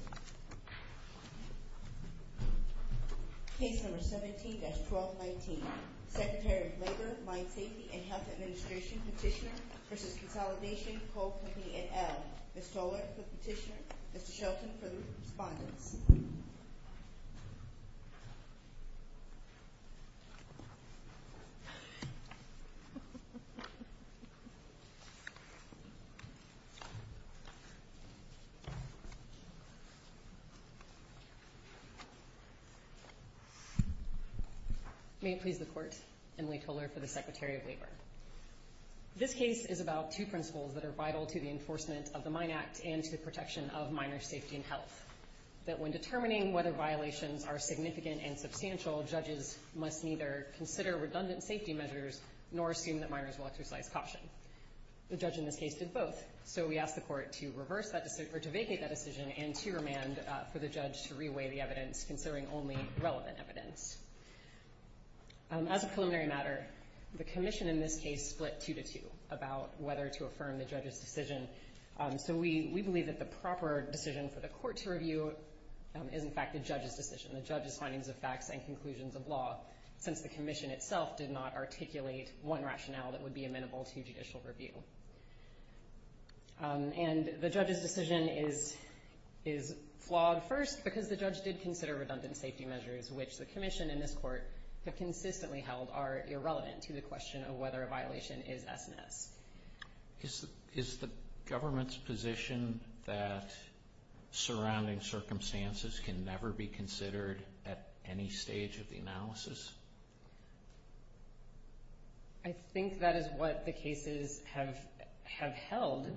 and L. Ms. Toler for the petitioner, Mr. Shelton for the respondents. May it please the Court, Emily Toler for the Secretary of Labor. This case is about two principles that are vital to the enforcement of the Mine Act and to the protection of miners' safety and health, that when determining whether violations are significant and substantial, judges must neither consider redundant safety measures nor assume that miners will exercise caution. The judge in this case did both. So we asked the Court to vacate that decision and to remand for the judge to re-weigh the evidence considering only relevant evidence. As a preliminary matter, the Commission in this case split two to two about whether to affirm the judge's decision. So we believe that the proper decision for the Court to review is in fact the judge's decision, the judge's findings of facts and conclusions of law, since the Commission itself did not articulate one rationale that would be amenable to judicial review. And the judge's decision is flawed first because the judge did consider redundant safety measures, which the Commission and this Court have consistently held are irrelevant to the question of whether a violation is S&S. Is the government's position that surrounding circumstances can never be considered at any time? I think that is what the cases have held.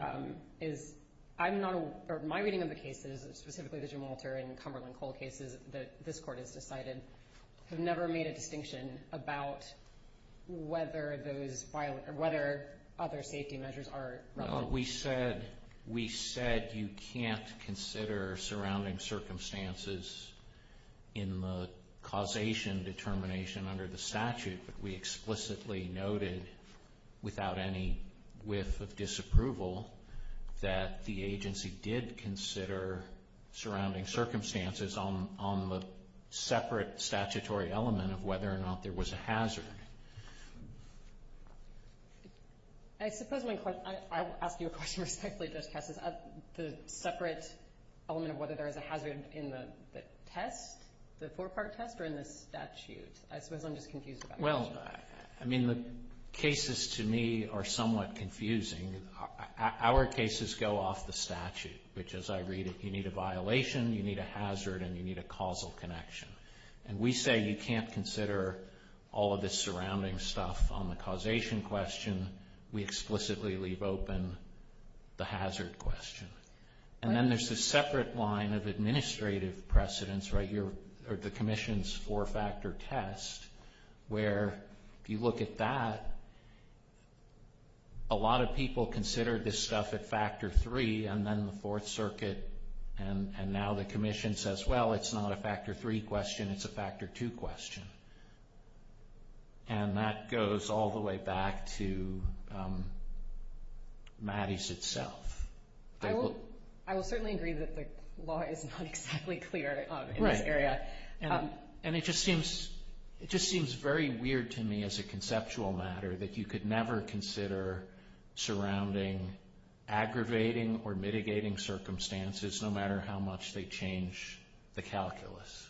My reading of the cases, specifically the Jim Walter and Cumberland Coal cases that this Court has decided, have never made a distinction about whether other safety measures are relevant. No, we said you can't consider surrounding circumstances in the causation determination under the statute, but we explicitly noted, without any whiff of disapproval, that the agency did consider surrounding circumstances on the separate statutory element of whether or not there was a hazard. I suppose my question, I will ask you a question respectfully, Judge Kessler, is the separate element of whether there is a hazard in the test, the four-part test, or in the statute. I suppose I'm just confused about that. Well, I mean, the cases to me are somewhat confusing. Our cases go off the statute, which as I read it, you need a violation, you need a hazard, and you need a causal connection. And we say you can't consider all of this surrounding stuff on the causation question. We explicitly leave open the hazard question. The Commission's four-factor test, where if you look at that, a lot of people consider this stuff at factor three, and then the Fourth Circuit, and now the Commission says, well, it's not a factor three question, it's a factor two question. And that goes all the way back to Mattis itself. I will certainly agree that the law is not exactly clear in this area. And it just seems very weird to me as a conceptual matter that you could never consider surrounding aggravating or mitigating circumstances, no matter how much they change the calculus.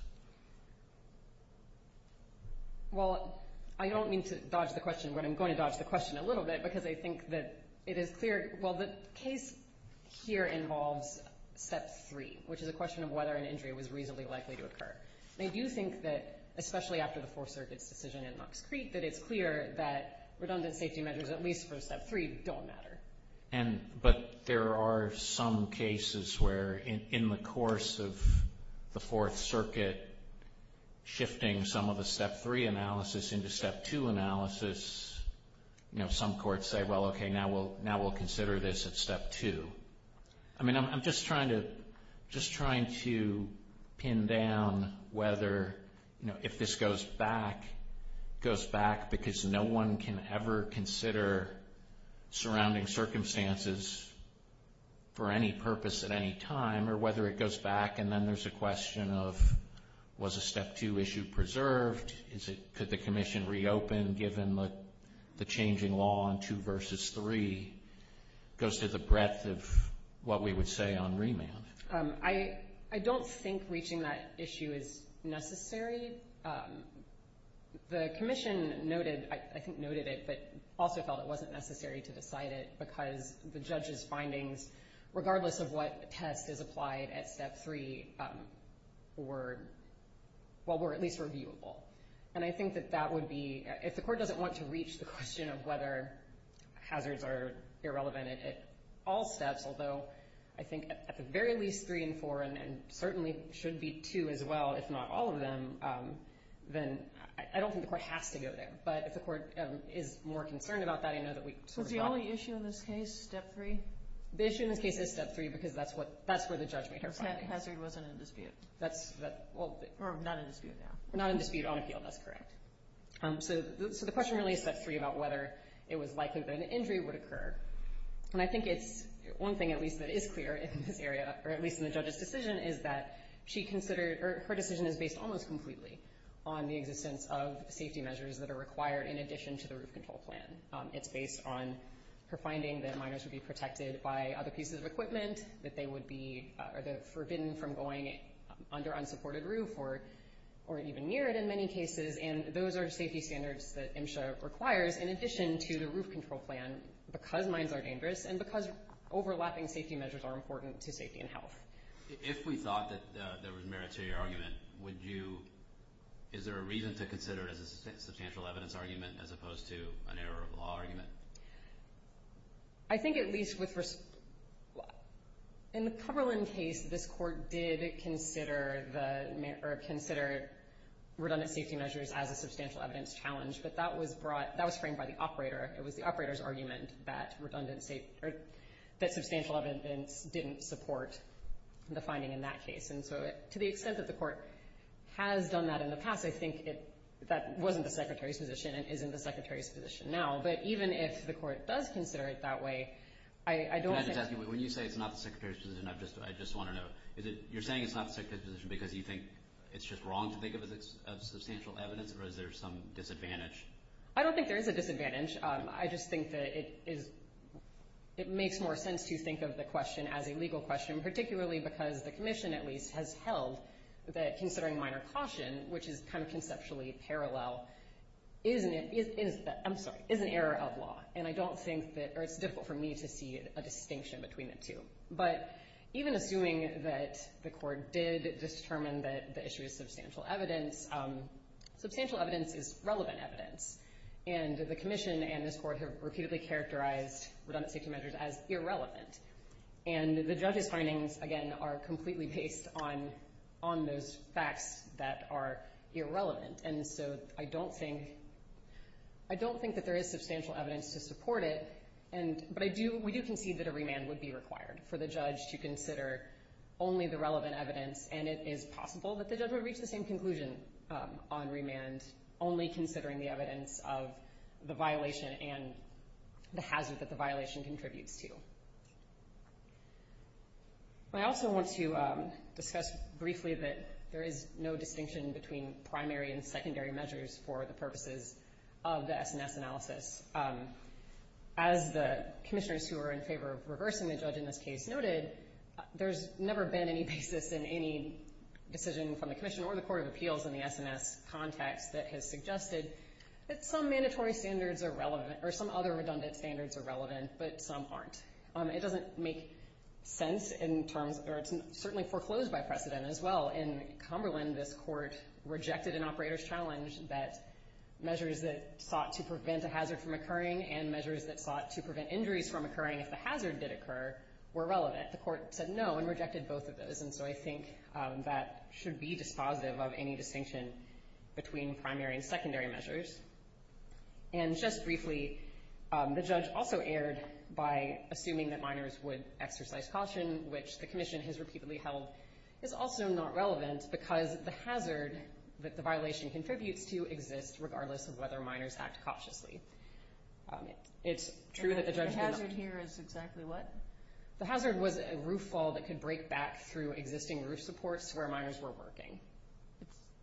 Well, I don't mean to dodge the question, but I'm going to dodge the question a little bit, because I think that it is clear, well, the case here involves step three, which is a question of whether an injury was reasonably likely to occur. And I do think that, especially after the Fourth Circuit's decision in Knox Creek, that it's clear that redundant safety measures, at least for step three, don't matter. But there are some cases where in the course of the Fourth Circuit shifting some of the courts say, well, okay, now we'll consider this at step two. I mean, I'm just trying to pin down whether, you know, if this goes back, it goes back because no one can ever consider surrounding circumstances for any purpose at any time, or whether it goes back and then there's a question of, was a step two issue preserved? Could the commission reopen, given the changing law on two versus three goes to the breadth of what we would say on remand? I don't think reaching that issue is necessary. The commission noted, I think noted it, but also felt it wasn't necessary to decide it because the judge's findings, regardless of what test is applied at step three, were at least reviewable. And I think that that would be, if the court doesn't want to reach the question of whether hazards are irrelevant at all steps, although I think at the very least three and four, and certainly should be two as well, if not all of them, then I don't think the court has to go there. But if the court is more concerned about that, I know that we sort of have to. So the only issue in this case, step three? The issue in this case is step three because that's what, that's where the judge made her findings. Step hazard wasn't in dispute. That's, well. Not in dispute now. Not in dispute on appeal, that's correct. So the question really is step three about whether it was likely that an injury would occur. And I think it's one thing at least that is clear in this area, or at least in the judge's decision, is that she considered, or her decision is based almost completely on the existence of safety measures that are required in addition to the roof control plan. It's based on her finding that minors would be protected by other pieces of equipment, that they would be forbidden from going under unsupported roof or even near it in many cases. And those are safety standards that MSHA requires in addition to the roof control plan because mines are dangerous and because overlapping safety measures are important to safety and health. If we thought that there was merit to your argument, would you, is there a reason to consider it as a substantial evidence argument as opposed to an error of law argument? I think at least with, in the Cumberland case, this court did consider the, or consider redundant safety measures as a substantial evidence challenge, but that was brought, that was framed by the operator. It was the operator's argument that redundant safety, or that substantial evidence didn't support the finding in that case. And so to the extent that the court has done that in the past, I think it, that wasn't the Secretary's position and isn't the Secretary's position now. But even if the court does consider it that way, I don't think... Can I just ask you, when you say it's not the Secretary's position, I just want to know, you're saying it's not the Secretary's position because you think it's just wrong to think of it as substantial evidence or is there some disadvantage? I don't think there is a disadvantage. I just think that it is, it makes more sense to think of the question as a legal question, particularly because the commission at least has held that considering minor caution, which is kind of conceptually parallel, is an error of law. And I don't think that, or it's difficult for me to see a distinction between the two. But even assuming that the court did determine that the issue is substantial evidence, substantial evidence is relevant evidence. And the commission and this court have repeatedly characterized redundant safety measures as irrelevant. And the judge's findings, again, are completely based on those facts that are irrelevant. And so I don't think that there is substantial evidence to support it, but we do concede that a remand would be required for the judge to consider only the relevant evidence. And it is possible that the judge would reach the same conclusion on remand only considering the evidence of the violation and the hazard that the violation contributes to. I also want to discuss briefly that there is no distinction between primary and secondary measures for the purposes of the SNS analysis. As the commissioners who are in favor of reversing the judge in this case noted, there's never been any basis in any decision from the commission or the court of appeals in the SNS context that has suggested that some mandatory standards are relevant, or some other redundant standards are relevant, but some aren't. It doesn't make sense in terms, or it's certainly foreclosed by precedent as well. In Cumberland, this court rejected an operator's challenge that measures that sought to prevent a hazard from occurring and measures that sought to prevent injuries from occurring if the hazard did occur were relevant. The court said no and rejected both of those. And so I think that should be dispositive of any distinction between primary and secondary measures. And just briefly, the judge also erred by assuming that minors would exercise caution, which the commission has repeatedly held is also not relevant because the hazard that the violation contributes to exists regardless of whether minors act cautiously. It's true that the judge... And the hazard here is exactly what? The hazard was a roof fall that could break back through existing roof supports where minors were working.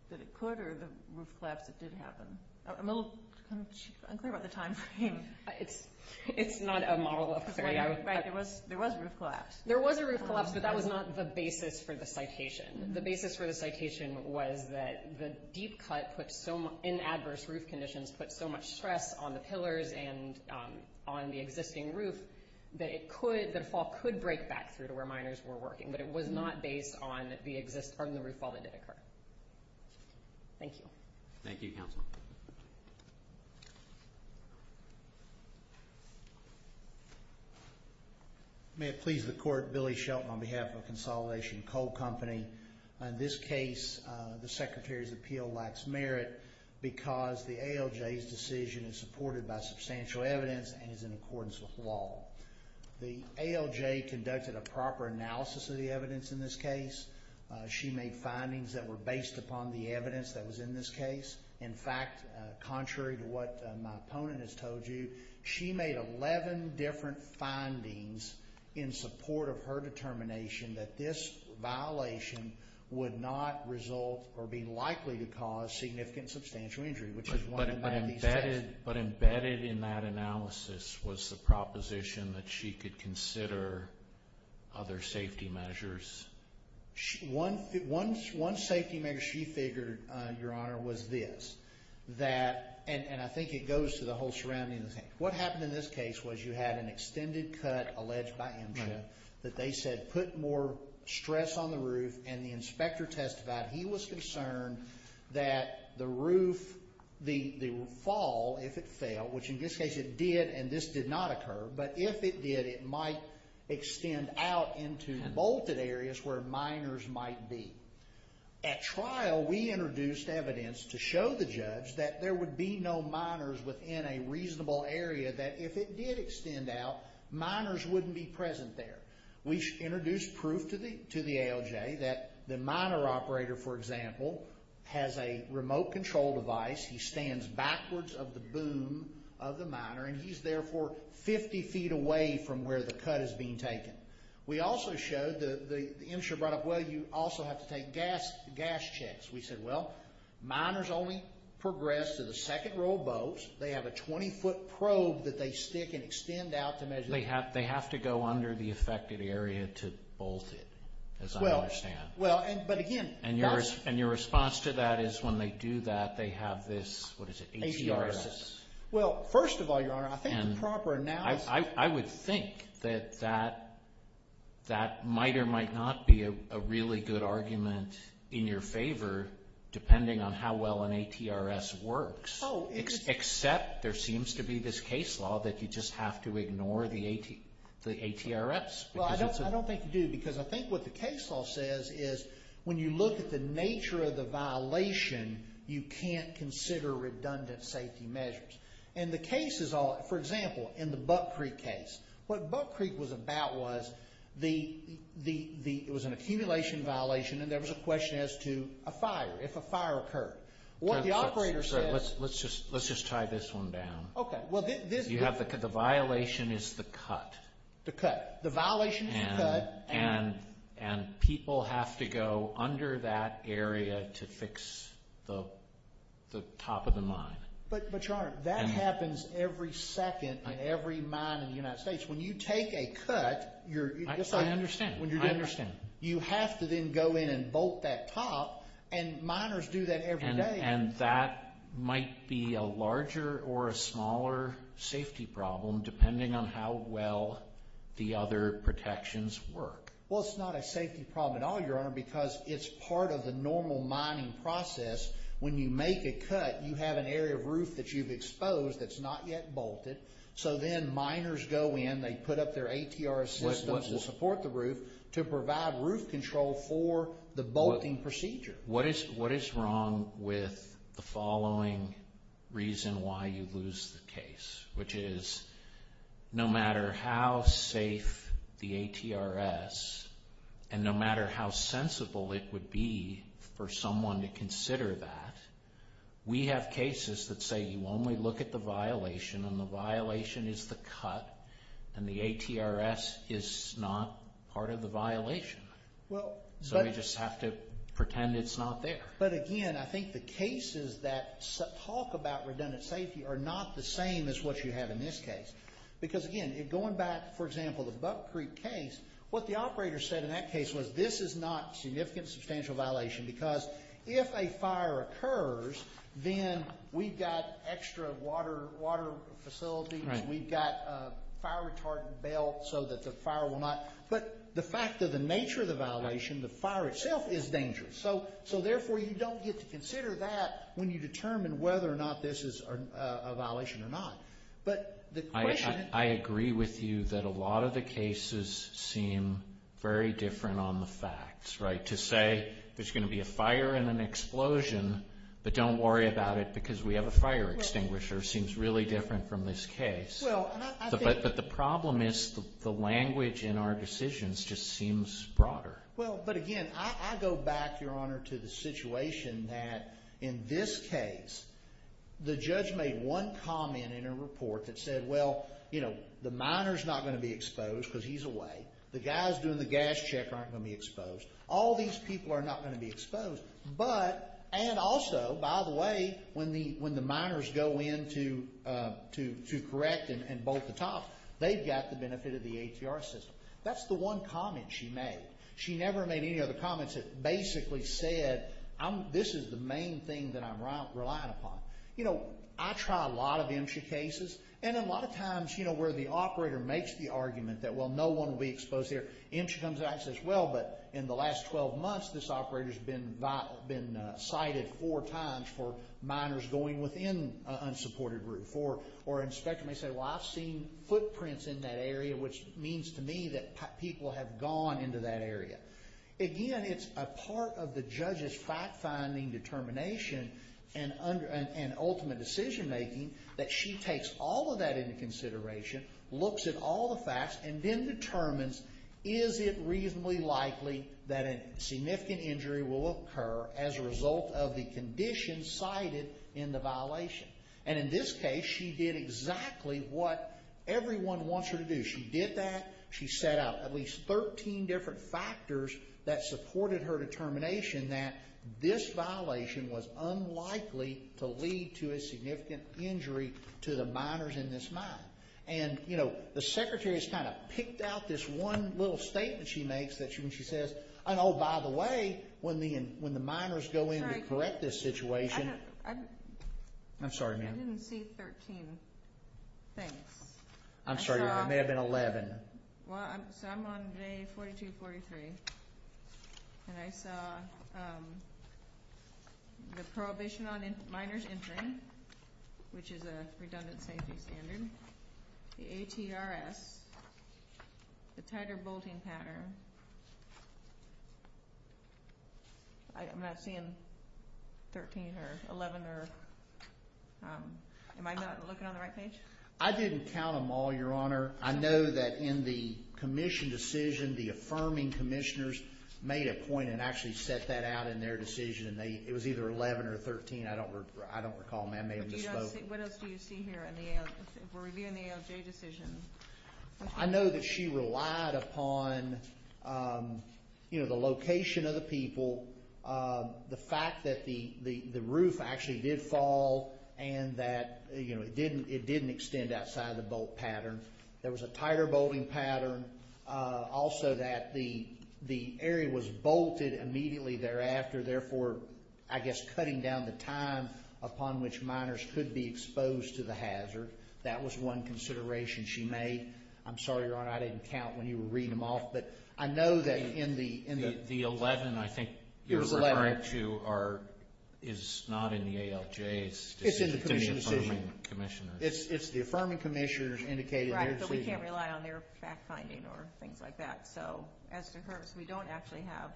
That it could, or the roof collapse that did happen? I'm a little unclear about the timeframe. It's not a model of failure. Right, there was a roof collapse. There was a roof collapse, but that was not the basis for the citation. The basis for the citation was that the deep cut in adverse roof conditions put so much stress on the pillars and on the existing roof that it could, that a fall could break back through to where minors were working, but it was not based on the roof fall that did occur. Thank you. Thank you, counsel. May it please the court, Billy Shelton on behalf of Consolidation Coal Company. In this case, the secretary's appeal lacks merit because the ALJ's decision is supported by substantial evidence and is in accordance with law. The ALJ conducted a proper analysis of the evidence in this case. She made findings that were based upon the evidence that was in this case. In fact, contrary to what my opponent has told you, she made 11 different findings in support of her determination that this violation would not result or be likely to cause significant substantial injury, which is one of the main theses. But embedded in that analysis was the proposition that she could consider other safety measures. One safety measure she figured, Your Honor, was this. And I think it goes to the whole surrounding thing. What happened in this case was you had an extended cut alleged by MSHA that they said put more stress on the roof, and the inspector testified he was concerned that the roof, the fall, if it fell, which in this case it did and this did not occur, but if it did, it might extend out into bolted areas where minors might be. At trial, we introduced evidence to show the judge that there would be no minors within a reasonable area that if it did extend out, minors wouldn't be present there. We introduced proof to the ALJ that the minor operator, for example, has a remote control device. He stands backwards of the boom of the minor, and he's therefore 50 feet away from where the cut is being taken. We also showed, the MSHA brought up, well, you also have to take gas checks. We said, well, minors only progress to the second row of boats. They have a 20-foot probe that they stick and extend out to measure. They have to go under the affected area to bolt it, as I understand. Your response to that is when they do that, they have this, what is it, ATRS? First of all, Your Honor, I think the proper analysis- I would think that that might or might not be a really good argument in your favor, depending on how well an ATRS works, except there seems to be this case law that you just have to ignore the ATRS. Well, I don't think you do, because I think what the case law says is when you look at the nature of the violation, you can't consider redundant safety measures. The cases, for example, in the Buck Creek case, what Buck Creek was about was it was an accumulation violation, and there was a question as to a fire. What the operator said- Let's just tie this one down. The violation is the cut. The cut. The violation is the cut. And people have to go under that area to fix the top of the mine. But, Your Honor, that happens every second in every mine in the United States. When you take a cut, you're- I understand. I understand. You have to then go in and bolt that top, and miners do that every day. And that might be a larger or a smaller safety problem, depending on how well the other protections work. Well, it's not a safety problem at all, Your Honor, because it's part of the normal mining process. When you make a cut, you have an area of roof that you've exposed that's not yet bolted, so then miners go in. They put up their ATR systems to support the roof to provide roof control for the bolting procedure. What is wrong with the following reason why you lose the case, which is no matter how safe the ATRS, and no matter how sensible it would be for someone to consider that, we have cases that say you only look at the violation, and the violation is the cut, and the ATRS is not part of the violation. So you just have to pretend it's not there. But again, I think the cases that talk about redundant safety are not the same as what you have in this case. Because again, going back, for example, the Buck Creek case, what the operator said in that case was this is not significant substantial violation because if a fire occurs, then we've got extra water facilities. We've got a fire retardant belt so that the fire will not... But the fact of the nature of the violation, the fire itself is dangerous, so therefore you don't get to consider that when you determine whether or not this is a violation or not. But the question... I agree with you that a lot of the cases seem very different on the facts, right? To say there's going to be a fire and an explosion, but don't worry about it because we have a But in this case, the problem is the language in our decisions just seems broader. Well, but again, I go back, Your Honor, to the situation that in this case, the judge made one comment in a report that said, well, you know, the miner's not going to be exposed because he's away. The guys doing the gas check aren't going to be exposed. All these people are not going to be exposed. But, and also, by the way, when the miners go in to correct and bolt the top, they've got the benefit of the ATR system. That's the one comment she made. She never made any other comments that basically said, this is the main thing that I'm relying upon. You know, I try a lot of MSHA cases, and a lot of times, you know, where the operator makes the argument that, well, no one will be exposed here. MSHA comes out and says, well, but in the last 12 months, this operator's been cited four times for miners going within an unsupported group, or an inspector may say, well, I've seen footprints in that area, which means to me that people have gone into that area. Again, it's a part of the judge's fact-finding determination and ultimate decision-making that she takes all of that into consideration, looks at all the facts, and then determines is it reasonably likely that a significant injury will occur as a result of the condition cited in the violation. And in this case, she did exactly what everyone wants her to do. She did that. She set out at least 13 different factors that supported her determination that this violation was unlikely to lead to a significant injury to the miners in this mine. And, you know, the Secretary's kind of picked out this one little statement she makes when she says, and oh, by the way, when the miners go in to correct this situation. I'm sorry, ma'am. I didn't see 13 things. I'm sorry, ma'am. It may have been 11. Well, so I'm on day 42, 43, and I saw the prohibition on miners entering, which is a ATRS, the tighter bolting pattern. I'm not seeing 13 or 11 or... Am I not looking on the right page? I didn't count them all, Your Honor. I know that in the commission decision, the affirming commissioners made a point and actually set that out in their decision. It was either 11 or 13. I don't recall, ma'am. I may have misspoke. What else do you see here in the ALJ decision? I know that she relied upon, you know, the location of the people, the fact that the roof actually did fall and that, you know, it didn't extend outside the bolt pattern. There was a tighter bolting pattern. Also, that the area was bolted immediately thereafter, therefore, I guess, cutting down the time upon which miners could be exposed to the hazard. That was one consideration she made. I'm sorry, Your Honor, I didn't count when you were reading them off, but I know that in the... The 11, I think you're referring to, is not in the ALJ's decision. It's in the commission decision. It's the affirming commissioners indicated in their decision. Right, but we can't rely on their fact-finding or things like that. So, as a concurrence, we don't actually have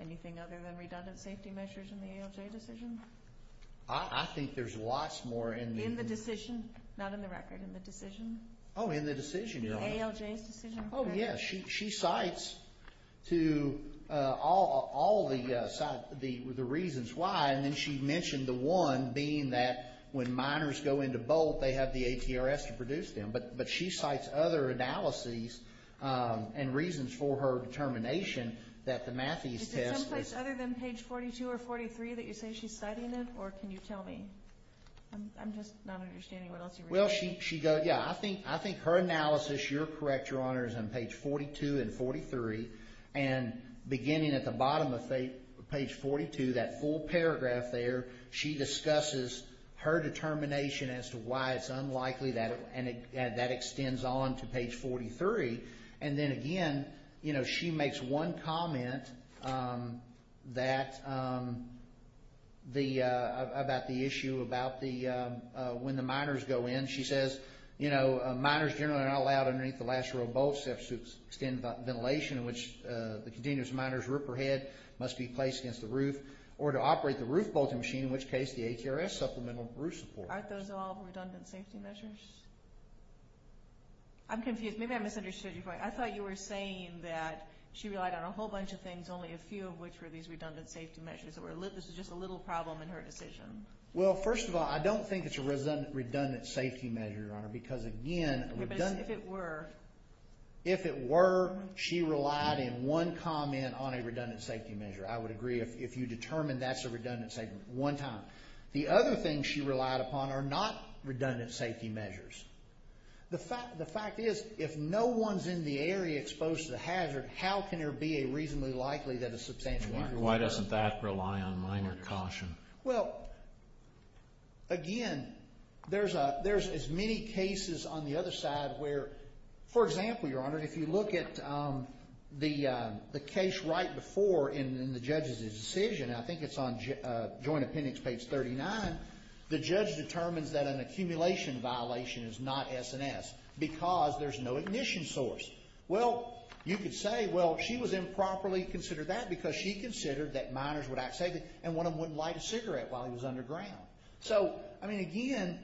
anything other than redundant safety measures in the ALJ decision. I think there's lots more in the... In the decision? Not in the record, in the decision. Oh, in the decision, Your Honor. ALJ's decision? Oh, yeah. She cites to all the reasons why, and then she mentioned the one being that when miners go into bolt, they have the ATRS to produce them. But she cites other analyses and reasons for her determination that the Matthews test was... Page 43 that you say she's citing it, or can you tell me? I'm just not understanding what else you're reading. Well, she goes... Yeah, I think her analysis, you're correct, Your Honor, is on page 42 and 43, and beginning at the bottom of page 42, that full paragraph there, she discusses her determination as to why it's unlikely that... And that extends on to page 43. And then again, you know, she makes one comment about the issue about when the miners go in. She says, you know, miners generally are not allowed underneath the last row of bolts except to extend ventilation, in which the continuous miner's ripper head must be placed against the roof, or to operate the roof bolting machine, in which case the ATRS supplemental roof support. Aren't those all redundant safety measures? I'm confused. Maybe I misunderstood your point. I thought you were saying that she relied on a whole bunch of things, only a few of which were these redundant safety measures. This was just a little problem in her decision. Well, first of all, I don't think it's a redundant safety measure, Your Honor, because again... But if it were... If it were, she relied in one comment on a redundant safety measure. I would agree if you determine that's a redundant safety measure, one time. The other thing she relied upon are not redundant safety measures. The fact is, if no one's in the area exposed to the hazard, how can there be a reasonably likely that a substantial miner... Why doesn't that rely on miner caution? Well, again, there's as many cases on the other side where... For example, Your Honor, if you look at the case right before in the judge's decision, I think it's on joint appendix page 39, the judge determines that an accumulation violation is not S&S because there's no ignition source. Well, you could say, well, she was improperly considered that because she considered that miners would act safely and one of them wouldn't light a cigarette while he was underground. So, I mean, again,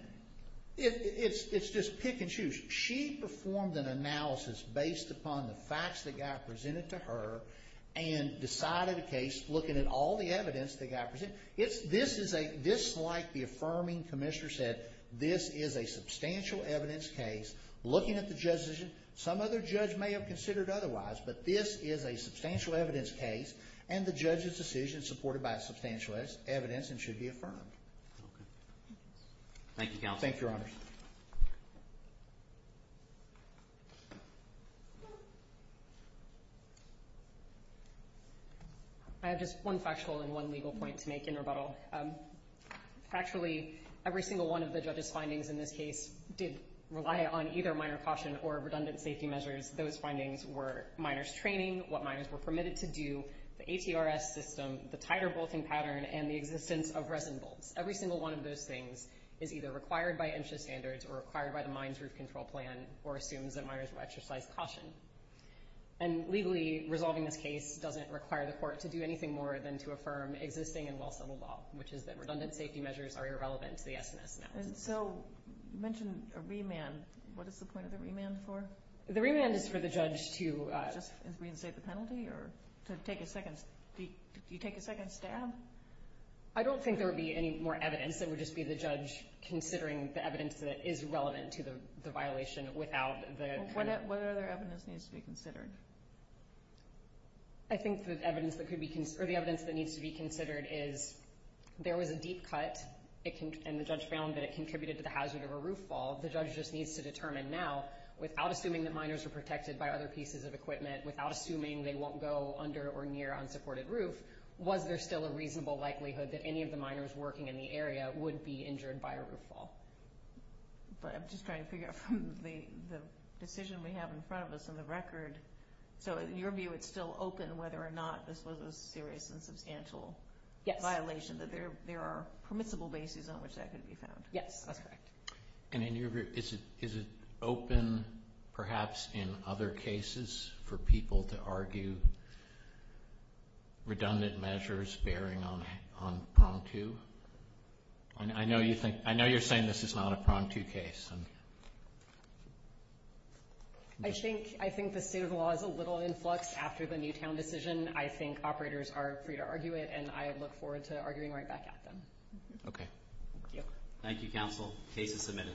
it's just pick and choose. She performed an analysis based upon the facts that got presented to her and decided a case looking at all the evidence that got presented. This, like the affirming commissioner said, this is a substantial evidence case looking at the judge's decision. Some other judge may have considered otherwise, but this is a substantial evidence case and the judge's decision is supported by substantial evidence and should be affirmed. Thank you, Your Honor. I have just one factual and one legal point to make in rebuttal. Actually, every single one of the judge's findings in this case did rely on either minor caution or redundant safety measures. Those findings were miners training, what miners were permitted to do, the ATRS system, the titer bolting pattern, and the existence of resin bolts. Every single one of those things is either required by MCHS or is not required by MCHS. And legally, resolving this case doesn't require the court to do anything more than to affirm existing and well-settled law, which is that redundant safety measures are irrelevant to the SNS analysis. So, you mentioned a remand. What is the point of the remand for? The remand is for the judge to— Just reinstate the penalty or to take a second—do you take a second stab? I don't think there would be any more evidence. It would just be the judge considering the evidence that is relevant to the violation without the— What other evidence needs to be considered? I think the evidence that needs to be considered is there was a deep cut, and the judge found that it contributed to the hazard of a roof fall. The judge just needs to determine now, without assuming that miners were protected by other pieces of equipment, without assuming they won't go under or near unsupported roof, was there still a reasonable likelihood that any of the miners working in the area would be injured by a roof fall? But I'm just trying to figure out from the decision we have in front of us on the record. So, in your view, it's still open whether or not this was a serious and substantial violation, that there are permissible bases on which that could be found? Yes, that's correct. And in your view, is it open, perhaps, in other cases for people to argue redundant measures bearing on prong two? I know you're saying this is not a prong two case. I think the state of the law is a little influxed after the Newtown decision. I think operators are free to argue it, and I look forward to arguing right back at them. Okay. Thank you, counsel. Case is submitted.